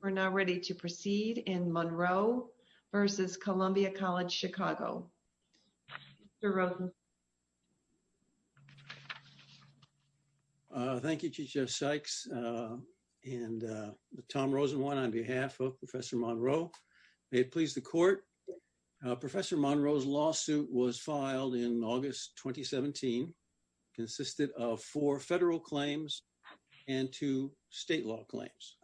We're now ready to proceed in Monroe versus Columbia College Chicago. Thank you, Chief Jeff Sykes and Tom Rosenwine on behalf of Professor Monroe. May it please the court, Professor Monroe's lawsuit was filed in August 2017, consisted of four federal claims and two state law claims.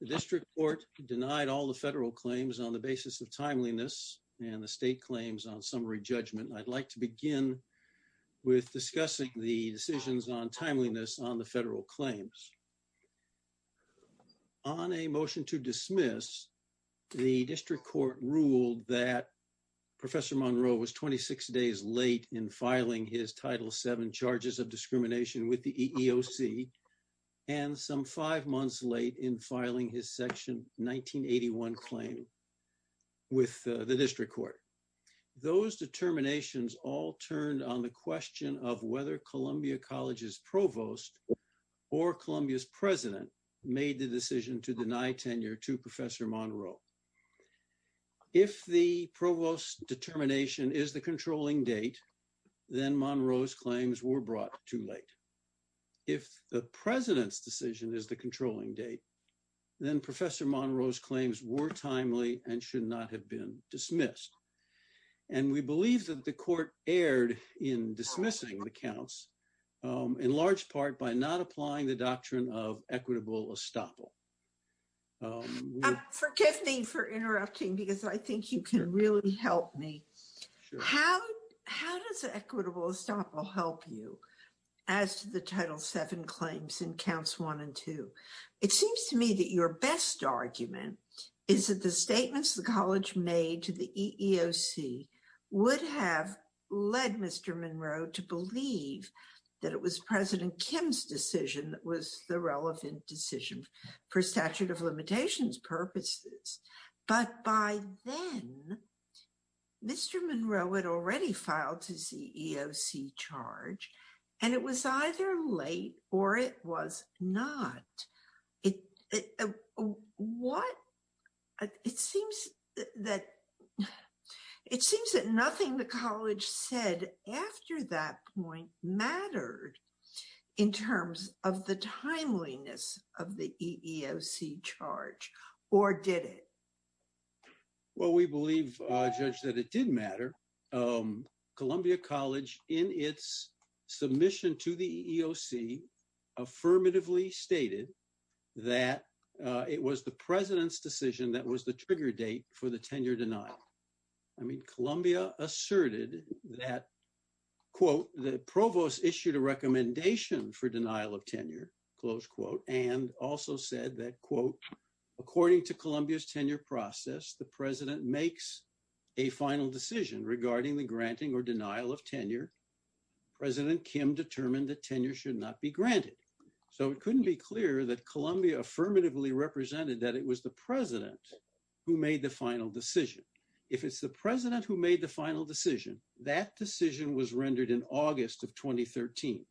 The district court denied all the federal claims on the basis of timeliness and the state claims on summary judgment. I'd like to begin with discussing the decisions on timeliness on the federal claims. On a motion to dismiss, the district court ruled that Professor Monroe was 26 days late in filing his Title VII charges of discrimination with the EEOC and some five months late in filing his Section 1981 claim with the district court. Those determinations all turned on the question of whether Columbia College's provost or Columbia's president made the decision to deny tenure to Professor Monroe. If the provost determination is the controlling date, then Monroe's claims were brought too late. If the president's decision is the controlling date, then Professor Monroe's claims were timely and should not have been dismissed. And we believe that the court erred in dismissing the counts in large part by not applying the doctrine of equitable estoppel. Forgive me for interrupting because I think you can really help me. How does equitable estoppel help you as to the Title VII claims in counts one and two? It seems to me that your best argument is that the statements the college made to the EEOC would have led Mr. Monroe to believe that it was President Kim's decision that was the relevant decision for statute of limitations purposes. But by then, Mr. Monroe had already filed his EEOC charge, and it was either late or it was not. It seems that nothing the college said after that point mattered in terms of the timeliness of the EEOC charge, or did it? Well, we believe, Judge, that it did matter. Columbia College, in its submission to the EEOC, affirmatively stated that it was the president's decision that was the trigger date for the tenure denial. I mean, Columbia asserted that, quote, the provost issued a recommendation for denial of tenure, close quote, and also said that, quote, according to Columbia's tenure process, the president makes a final decision regarding the granting or denial of tenure. President Kim determined that tenure should not be granted. So it couldn't be clearer that Columbia affirmatively represented that it was the president who made the final decision. If it's the president who made the final decision, that decision was rendered in August of 2013,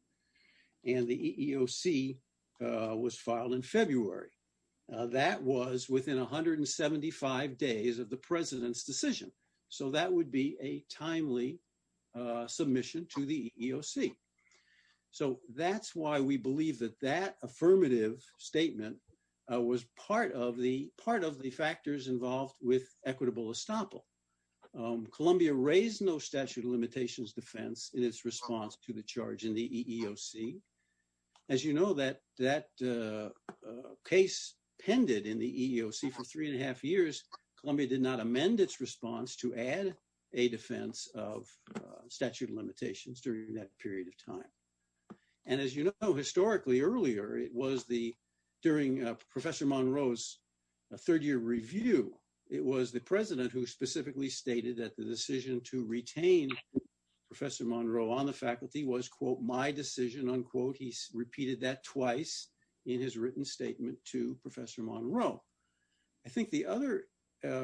and the EEOC was filed in February. That was within 175 days of the president's decision. So that would be a timely submission to the EEOC. So that's why we believe that that affirmative statement was part of the factors involved with equitable estoppel. Columbia raised no statute of limitations defense in its response to the charge in the EEOC. As you know, that case pended in the EEOC for three and a half years. Columbia did not amend its response to add a defense of statute of limitations during that period of time. And as you know, historically earlier, it was during Professor Monroe's third-year review, it was the president who specifically stated that the decision to retain Professor Monroe on the faculty was, quote, my decision, unquote. He repeated that twice in his written statement to Professor Monroe. I think the other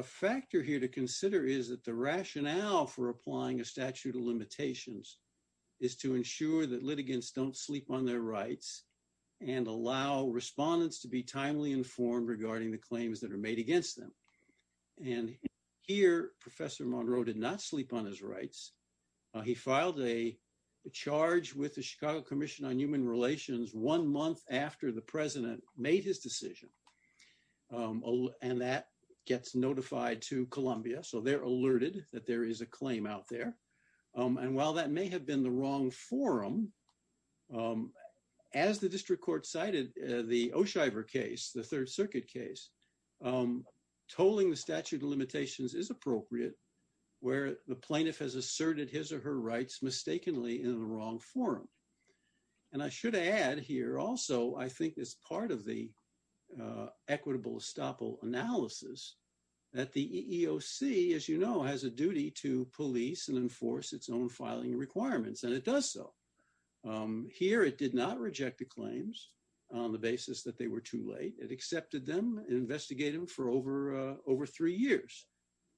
factor here to consider is that the rationale for applying a statute of limitations is to ensure that litigants don't sleep on their rights and allow respondents to be timely informed regarding the claims that are made against them. And here, Professor Monroe did not sleep on his rights. He filed a charge with the Chicago Commission on Human Relations one month after the president made his decision. And that gets notified to Columbia. So they're alerted that there is a claim out there. And while that may have been the wrong forum, as the district court cited the O'Shiver case, the Third Circuit case, tolling the statute of limitations is appropriate where the plaintiff has asserted his or her rights mistakenly in the wrong forum. And I should add here also, I think as part of the equitable estoppel analysis that the EEOC, as you know, has a duty to police and enforce its own filing requirements. And it does so. Here, it did not reject the claims on the basis that they were too late. It accepted them and investigated them for over three years.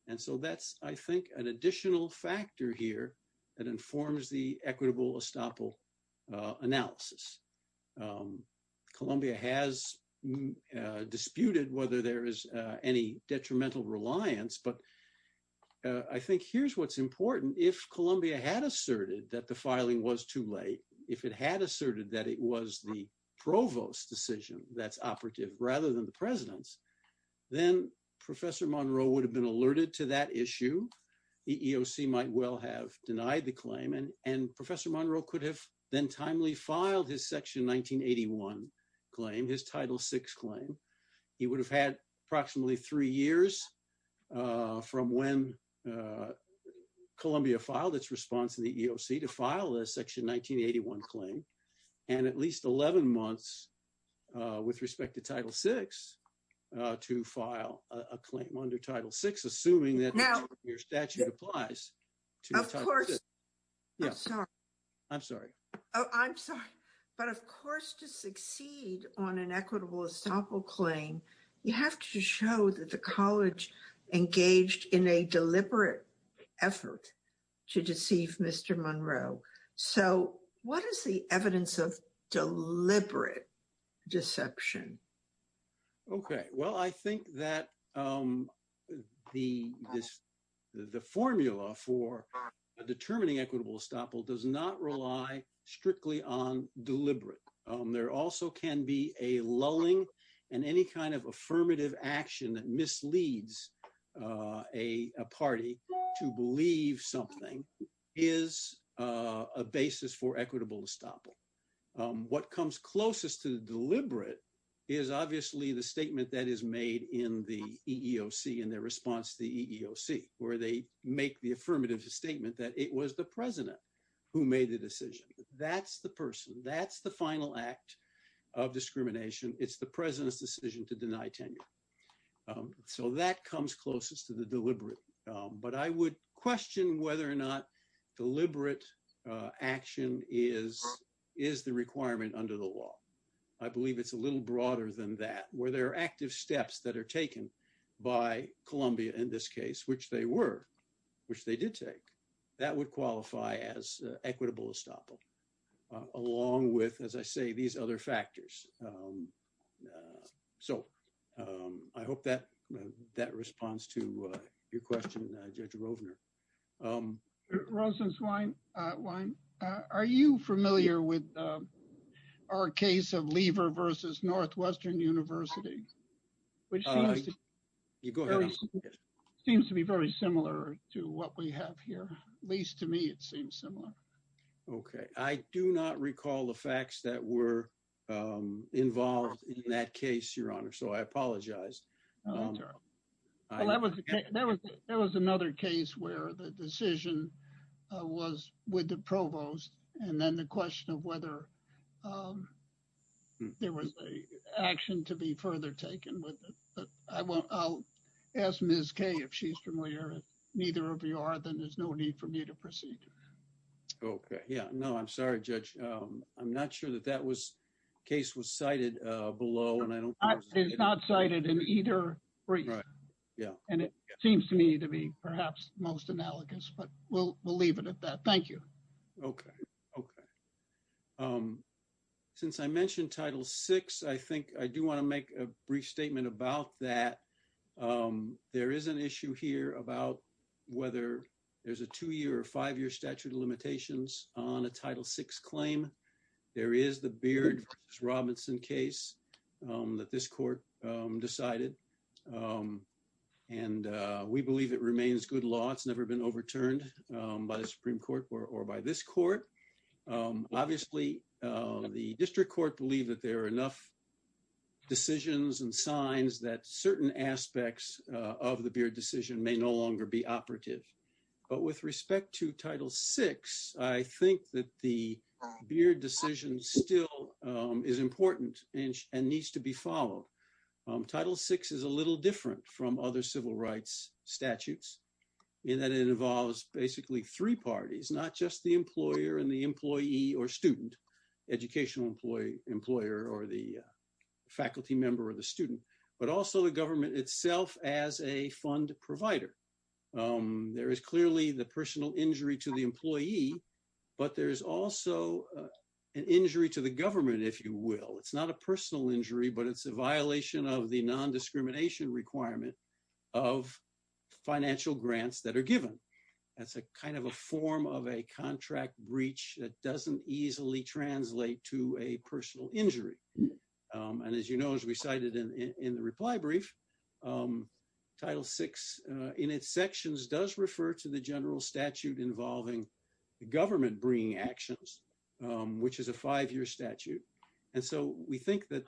And so that's, I think, an additional factor here that informs the equitable estoppel analysis. Columbia has disputed whether there is any detrimental reliance. But I think here's what's important. If Columbia had asserted that the filing was too late, if it had asserted that it was the provost's decision that's operative rather than the president's, then Professor Monroe would have been alerted to that issue. The EEOC might well have denied the claim. And Professor Monroe could have then timely filed his Section 1981 claim, his Title VI claim. He would have had approximately three years from when Columbia filed its response in the EEOC to file a Section 1981 claim and at least 11 months with respect to Title VI to file a claim under Title VI, assuming that your statute applies to Title VI. I'm sorry. I'm sorry. But of course, to succeed on an equitable estoppel claim, you have to show that the college engaged in a deliberate effort to deceive Mr. Monroe. So, what is the evidence of deliberate deception? Okay. Well, I think that the formula for determining equitable estoppel does not rely strictly on deliberate. There also can be a lulling and any kind of affirmative action that misleads a party to believe something is a basis for equitable estoppel. What comes closest to deliberate is obviously the statement that is made in the EEOC in their response to the EEOC, where they make the affirmative statement that it was the President who made the decision. That's the person. That's the final act of discrimination. It's the President's decision to deny tenure. So, that comes closest to the deliberate. But I would question whether or not deliberate action is the requirement under the law. I believe it's a little broader than that, where there are active steps that are taken by Columbia in this case, which they were, which they did take. That would qualify as equitable estoppel, along with, as I say, these other factors. So, I hope that responds to your question, Judge Rovner. Rovner, are you familiar with our case of Lever versus Northwestern University, which seems to be very similar to what we have here? At least to me, it seems similar. Okay. I do not recall the facts that were involved in that case, Your Honor. So, I apologize. Well, that was another case where the decision was with the provost, and then the question of whether there was action to be further taken with it. I'll ask Ms. Kay if she's familiar. Neither of you are, then there's no need for me to proceed. Okay. Yeah. No, I'm sorry, Judge. I'm not sure that that case was cited below. It's not cited in either brief. Yeah. And it seems to me to be perhaps most analogous, but we'll leave it at that. Thank you. Okay. Okay. Since I mentioned Title VI, I think I do want to make a brief statement about that. There is an issue here about whether there's a two-year or five-year statute of limitations on a Title VI claim. There is the Beard v. Robinson case that this court decided, and we believe it remains good law. It's never been overturned by the Supreme Court or by this court. Obviously, the district court believed that there are enough decisions and signs that certain aspects of the Beard decision may no longer be operative. But with respect to Title VI, I think that the Beard decision still is important and needs to be followed. Title VI is a little different from other civil rights statutes in that it involves basically three parties, not just the employer and the employee or student, educational employer or the faculty member or the student, but also the government itself as a fund provider. There is clearly the personal injury to the employee, but there's also an injury to the government, if you will. It's not a personal injury, but it's a violation of the non-discrimination requirement of financial grants that are given. That's a kind of a form of a contract breach that doesn't easily translate to a personal injury. And as you know, as we cited in the reply brief, Title VI in its sections does refer to the general statute involving the government bringing actions, which is a five-year statute. And so we think that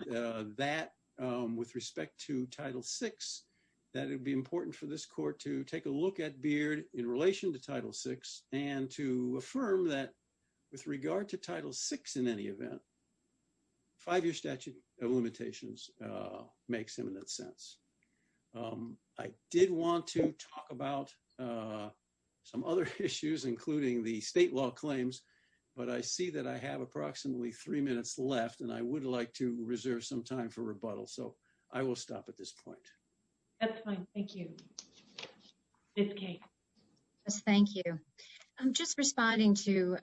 that with respect to Title VI, that it would be important for this court to take a look at Beard in relation to Title VI and to affirm that with regard to Title VI in any event, five-year statute of limitations makes eminent sense. I did want to talk about some other issues, including the state law claims, but I see that I have approximately three minutes left, and I would like to reserve some time for rebuttal. So I will stop at this point. MS. MCDOWELL. That's fine. Thank you. Ms. Kaye. MS. KAYE. Yes, thank you. I'm just responding to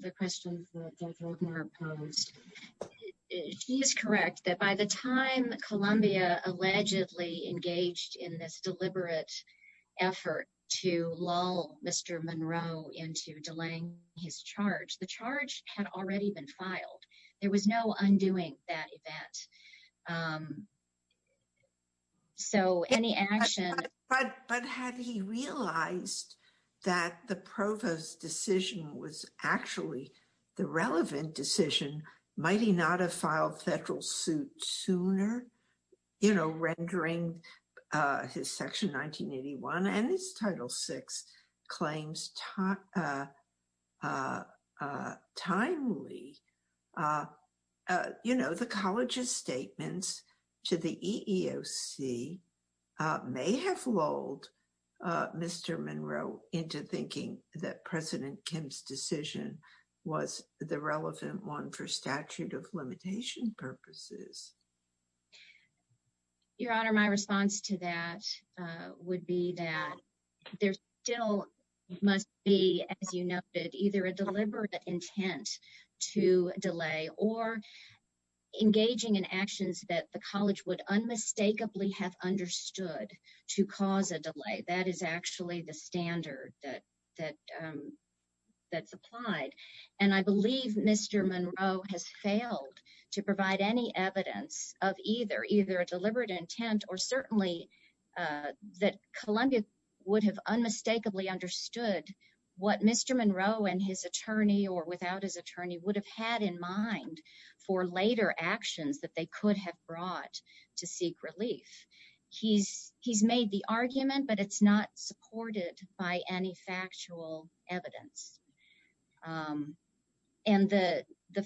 the question that Judge Oldenburg posed. He is correct that by the time Columbia allegedly engaged in this deliberate effort to lull Mr. Monroe into delaying his charge, the charge had already been filed. There was no undoing that event. So any action— MS. MCDOWELL. MS. KAYE. —was actually the relevant decision, might he not have filed federal suit sooner, you know, rendering his Section 1981 and his Title VI claims timely. You know, the College's statements to the EEOC may have lulled Mr. Monroe into thinking that President Kim's decision was the relevant one for statute of limitation purposes. MS. MCDOWELL. Your Honor, my response to that would be that there still must be, as you noted, either a deliberate intent to delay or engaging in actions that the College would unmistakably have understood to cause a delay. That is actually the standard that's applied. And I believe Mr. Monroe has failed to provide any evidence of either, either a deliberate intent or certainly that Columbia would have unmistakably understood what Mr. Monroe and his attorney or without his attorney would have had in mind for later actions that they could have brought to seek relief. He's made the argument, but it's not supported by any factual evidence. And the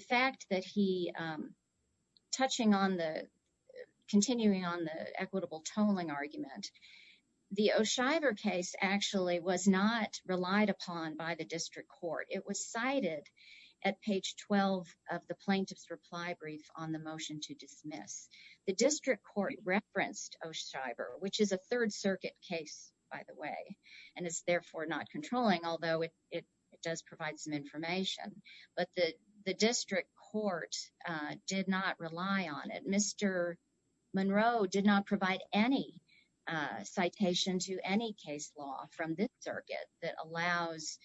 fact that he—touching on the—continuing on the equitable tolling argument, the O'Shiver case actually was not relied upon by the district court. It was cited at page 12 of the plaintiff's reply brief on the motion to dismiss. The district court referenced O'Shiver, which is a Third Circuit case, by the way, and is therefore not controlling, although it does provide some information. But the district court did not rely on it. Mr. Monroe did not provide any citation to any case law from this circuit that allows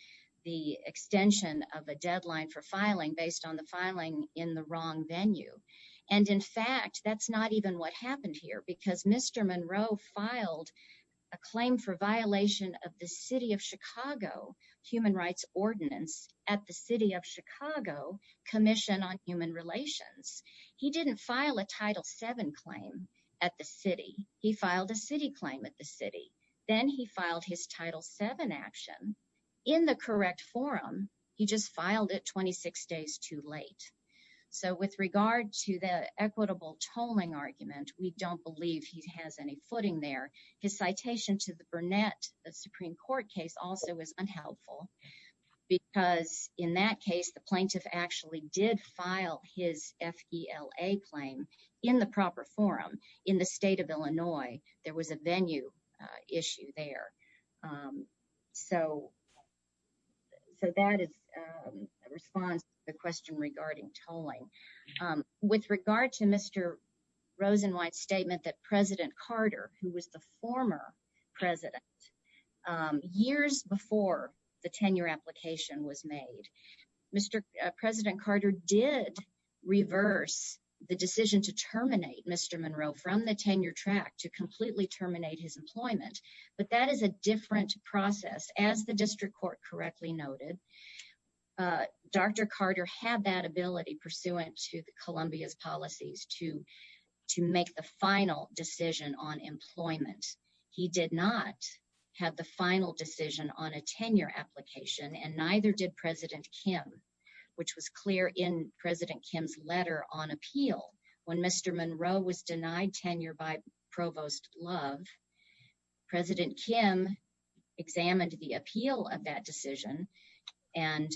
the extension of a deadline for filing based on the filing in the wrong venue. And in fact, that's not even what happened here because Mr. Monroe filed a claim for violation of the City of Chicago Human Rights Ordinance at the City of Chicago Commission on Human Relations. He didn't file a Title VII claim at the city. He filed a city claim at the city. Then he filed his Title VII action in the correct forum. He just filed it 26 days too late. So with regard to the equitable tolling argument, we don't believe he has any footing there. His citation to the Burnett, the Supreme Court case, also was unhelpful because in that case the plaintiff actually did file his F.E.L.A. claim in the proper forum in the state of Illinois. There was a venue issue there. So that is a response to the question regarding tolling. With regard to Mr. Rosenwhite's statement that President Carter, who was the former president, years before the tenure application was made, Mr. President Carter did reverse the decision to terminate Mr. Monroe from the tenure track to completely terminate his employment. But that is a different process. As the district court correctly noted, Dr. Carter had that ability pursuant to the Columbia's policies to make the final decision on employment. He did not have the final decision on a tenure application and neither did President Kim, which was clear in President Kim's letter on appeal when Mr. Monroe was denied tenure by Provost Love. President Kim examined the appeal of that decision and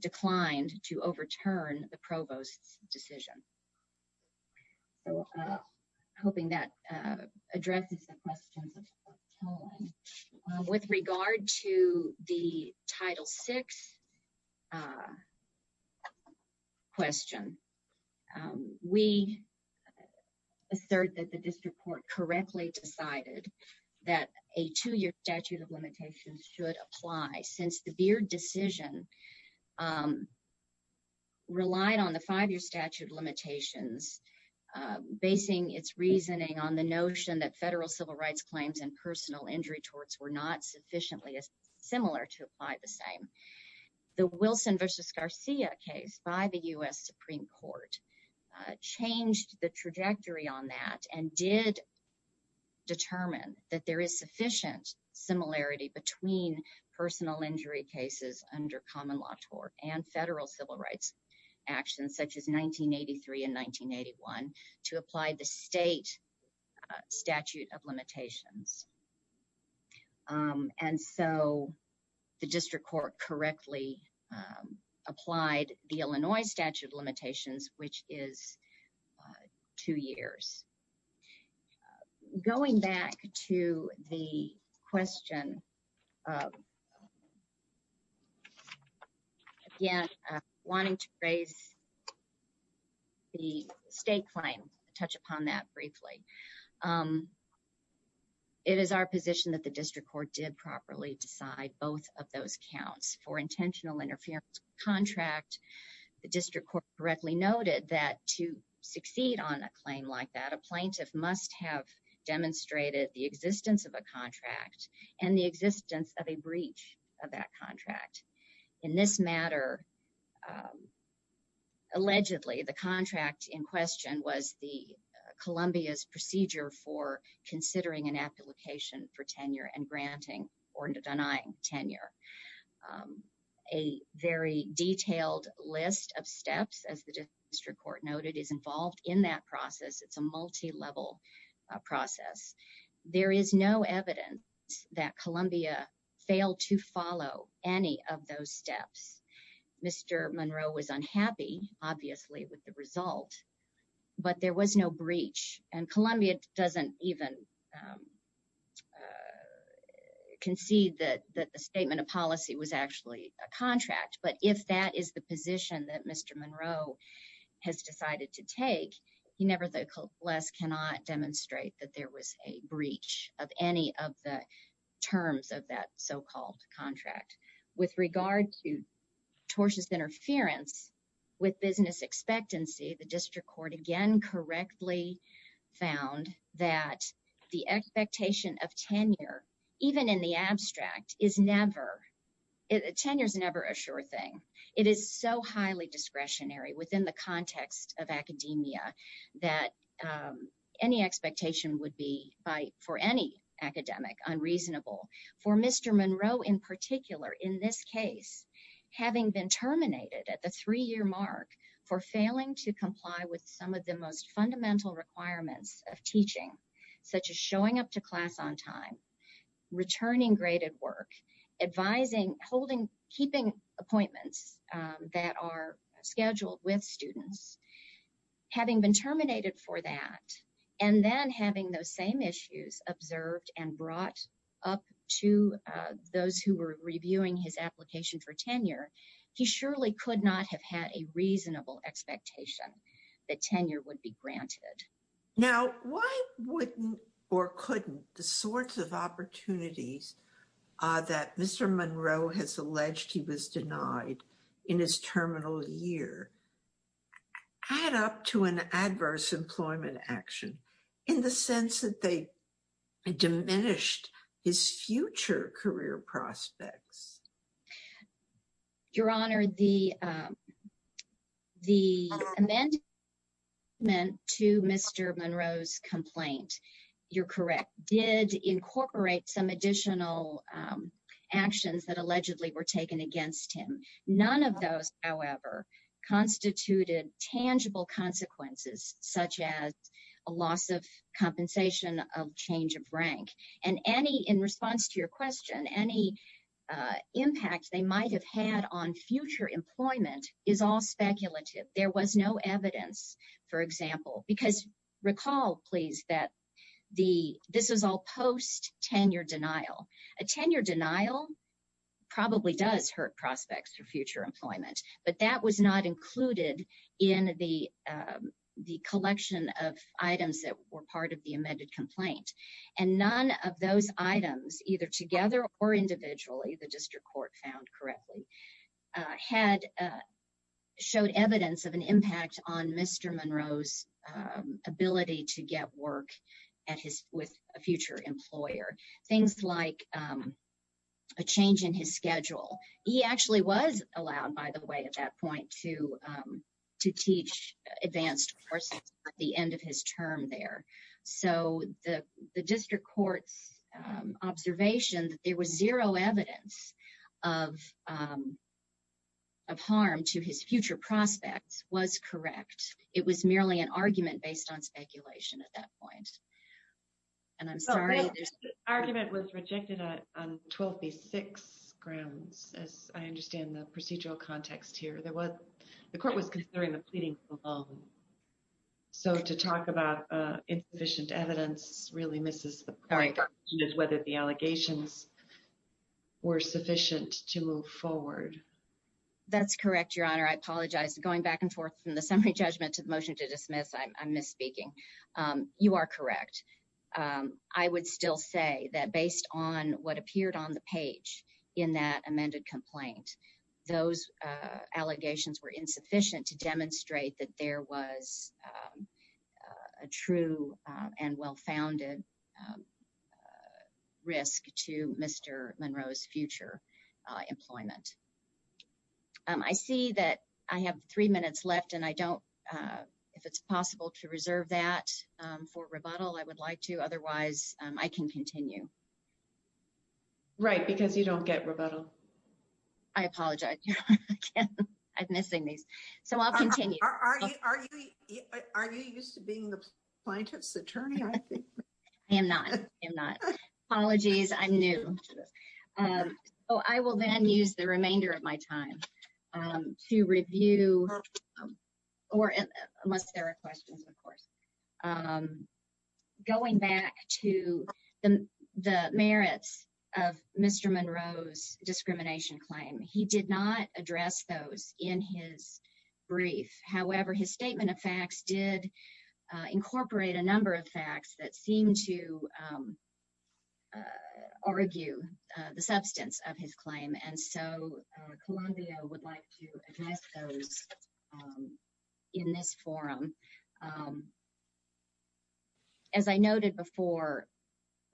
declined to overturn the provost's decision. So I'm hoping that addresses the questions. With regard to the Title VI question, we assert that the district court correctly decided that a two-year statute of limitations should apply since the Beard decision relied on the five-year statute of limitations, basing its reasoning on the notion that federal civil rights claims and personal injury torts were not sufficiently similar to apply the same. The Wilson v. Garcia case by the U.S. Supreme Court changed the trajectory on that and did determine that there is sufficient similarity between personal injury cases under common law tort and federal civil rights actions, such as 1983 and 1981, to apply the state statute of limitations. And so the district court correctly applied the Illinois statute of limitations, which is two years. Going back to the question, again, wanting to raise the state claim, touch upon that briefly. It is our position that the district court did properly decide both of those counts. For intentional interference contract, the district court correctly noted that to succeed on a claim like that, a plaintiff must have demonstrated the existence of a contract and the existence of a breach of that contract. In this matter, allegedly, the contract in question was the Columbia's procedure for considering an application for tenure and granting or denying tenure. A very detailed list of steps, as the district court noted, is involved in that process. It's a multi-level process. There is no evidence that Columbia failed to follow any of those steps. Mr. Monroe was unhappy, obviously, with the result, but there was no breach. And Columbia doesn't even concede that the statement of policy was actually a contract. But if that is the position that Mr. Monroe has decided to take, he nevertheless cannot demonstrate that there was a breach of any of the so-called contract. With regard to tortious interference with business expectancy, the district court again correctly found that the expectation of tenure, even in the abstract, tenure is never a sure thing. It is so highly discretionary within the context of academia that any expectation would be, for any academic, unreasonable. For Mr. Monroe in particular, in this case, having been terminated at the three-year mark for failing to comply with some of the most fundamental requirements of teaching, such as showing up to class on time, returning graded work, advising, holding, keeping appointments that are scheduled with students, having been terminated for that, and then having those same issues observed and brought up to those who were reviewing his application for tenure, he surely could not have had a reasonable expectation that tenure would be granted. Now, why wouldn't or couldn't the sorts of opportunities that Mr. Monroe has alleged he was denied in his terminal year add up to an adverse employment action in the sense that they diminished his future career prospects? Your Honor, the amendment to Mr. Monroe's complaint, you're correct, did incorporate some additional actions that allegedly were taken against him. None of those, however, constituted tangible consequences, such as a loss of compensation, a change of rank, and any, in response to your question, any impact they might have had on future employment is all speculative. There was no evidence, for example, because recall, please, that this is all post-tenure denial. A tenure denial probably does hurt prospects for future employment, but that was not included in the collection of items that were part of the amended complaint, and none of those items, either together or individually, the district court found correctly, had showed evidence of an impact on Mr. Monroe's ability to get work at his, with a future employer. Things like a change in his schedule. He actually was allowed, by the way, at that point to teach advanced courses at the end of his term there, so the district court's observation that there was zero evidence of harm to his future prospects was correct. It was merely an argument based on speculation at that point, and I'm sorry. The argument was rejected on 12B6 grounds, as I believe. So to talk about insufficient evidence really misses the point of whether the allegations were sufficient to move forward. That's correct, Your Honor. I apologize. Going back and forth from the summary judgment to the motion to dismiss, I'm misspeaking. You are correct. I would still say that based on what appeared on the page in that amended complaint, those allegations were insufficient to demonstrate that there was a true and well-founded risk to Mr. Monroe's future employment. I see that I have three minutes left, and I don't, if it's possible to reserve that for rebuttal, I would like to. Otherwise, I can continue. Right, because you don't get rebuttal. I apologize, Your Honor. I'm missing these. So I'll continue. Are you used to being the plaintiff's attorney? I am not. Apologies, I'm new. Oh, I will then use the remainder of my time to review, unless there are questions, of course, going back to the merits of Mr. Monroe's discrimination claim. He did not address those in his brief. However, his statement of facts did incorporate a number of facts that seemed to argue the substance of his claim. And so, Columbia would like to address those in this forum. As I noted before,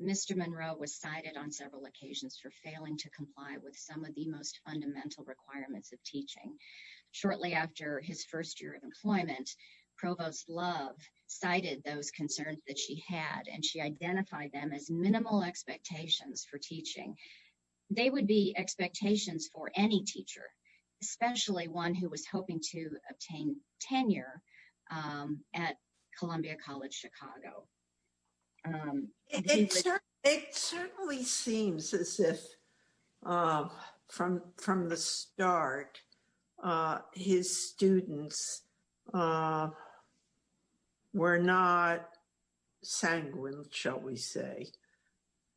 Mr. Monroe was cited on several occasions for failing to comply with some of the most fundamental requirements of teaching. Shortly after his first year of employment, Provost Love cited those concerns that she had, and she identified them as minimal expectations for teaching. They would be expectations for any teacher, especially one who was hoping to obtain tenure at Columbia College Chicago. It certainly seems as if from the start, his students were not sanguine, shall we say,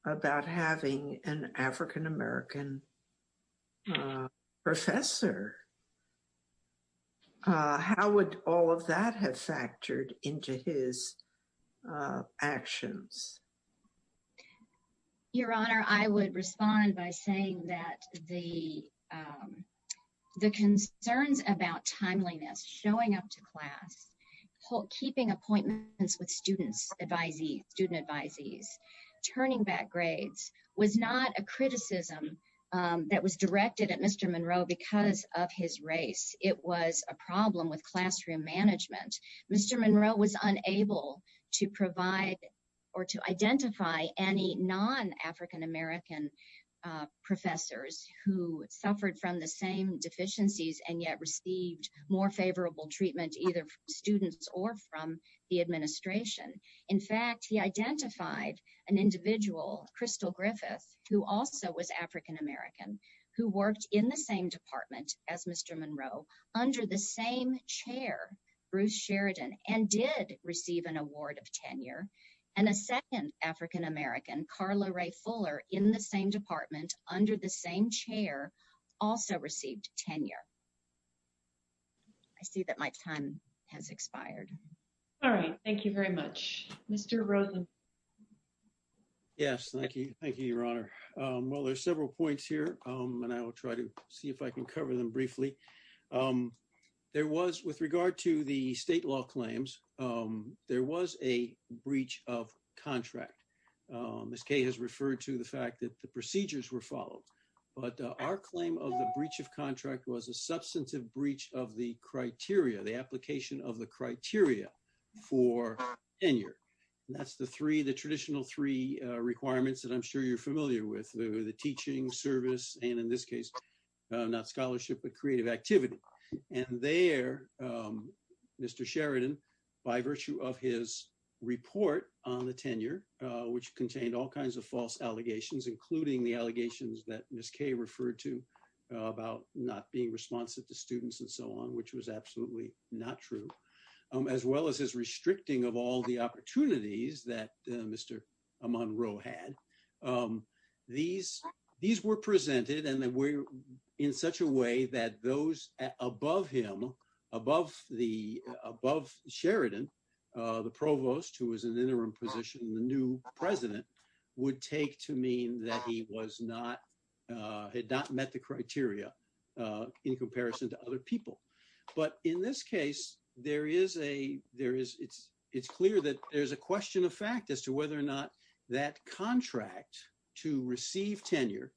about having an African American professor. How would all of that have factored into his actions? Your Honor, I would respond by saying that the concerns about timeliness, showing up to class, keeping appointments with student advisees, turning back grades was not a criticism that was directed at Mr. Monroe because of his race. It was a problem with classroom management. Mr. Monroe was unable to provide or to identify any non-African American professors who suffered from the same deficiencies and yet received more favorable treatment either from students or from the administration. In fact, he identified an individual, Crystal Griffith, who also was African American, who worked in the same department as Mr. Monroe under the same chair, Bruce Sheridan, and did receive an award of tenure. And a second African American, Carla Rae Fuller, in the same department, under the same chair, also received tenure. I see that my time has expired. All right, thank you very much. Mr. Rosen. Yes, thank you. Thank you, Your Honor. Well, there's several points here and I will try to see if I can cover them briefly. There was, with regard to the state law claims, there was a breach of contract. Ms. Kaye has referred to the fact that the procedures were followed, but our claim of the breach of contract was a substantive breach of the criteria, the application of the criteria for tenure. And that's the three, the traditional three requirements that I'm sure you're familiar with, the teaching service, and in this case, not scholarship, but creative activity. And there, Mr. Sheridan, by virtue of his report on the tenure, which contained all kinds of false allegations, including the allegations that Ms. Kaye referred to about not being responsive to students and so on, which was absolutely not true, as well as his restricting of all the opportunities that Mr. Monroe had. These were presented in such a way that those above him, above Sheridan, the provost, who was an interim position, the new president, would take to mean that he had not met the criteria in comparison to other people. But in this case, it's clear that there's a question of fact as to whether or not that contract to receive tenure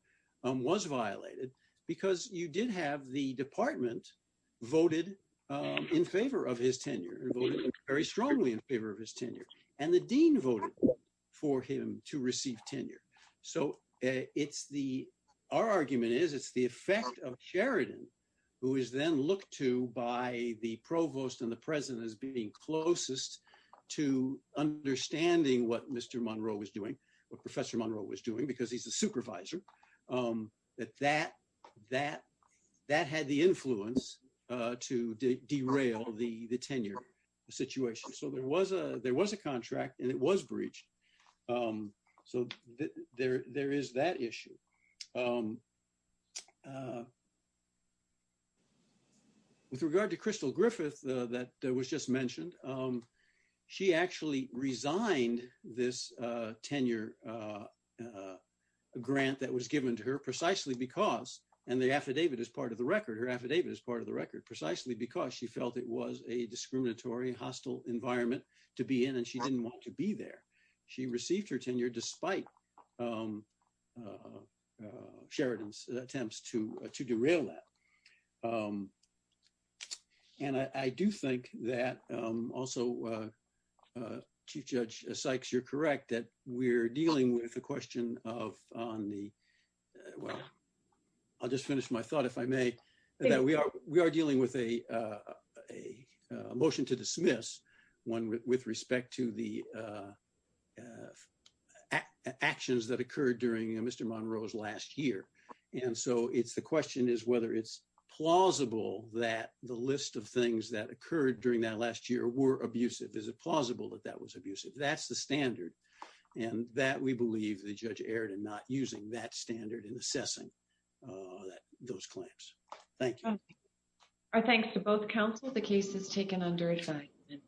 was violated, because you did have the department voted in favor of his tenure, very strongly in favor of his tenure, and the dean voted for him to receive tenure. So it's the, our argument is it's the effect of Sheridan, who is then looked to by the professor Monroe was doing, because he's a supervisor, that that had the influence to derail the tenure situation. So there was a contract and it was breached. So there is that issue. With regard to Crystal Griffith, that was just mentioned, she actually resigned this tenure grant that was given to her precisely because, and the affidavit is part of the record, her affidavit is part of the record, precisely because she felt it was a discriminatory, hostile environment to be in, and she didn't want to be there. She received her tenure despite Sheridan's attempts to derail that. And I do think that also, Chief Judge Sykes, you're correct that we're dealing with the question of on the, well, I'll just finish my thought if I may, that we are dealing with a motion to dismiss one with respect to the actions that occurred during Mr. Monroe's last year. And so it's the question is whether it's plausible that the list of things that occurred during that last year were abusive. Is it plausible that that was abusive? That's the standard. And that we believe the judge erred in not using that standard in assessing those claims. Thank you. Our thanks to both counsel. The case is taken under assignment.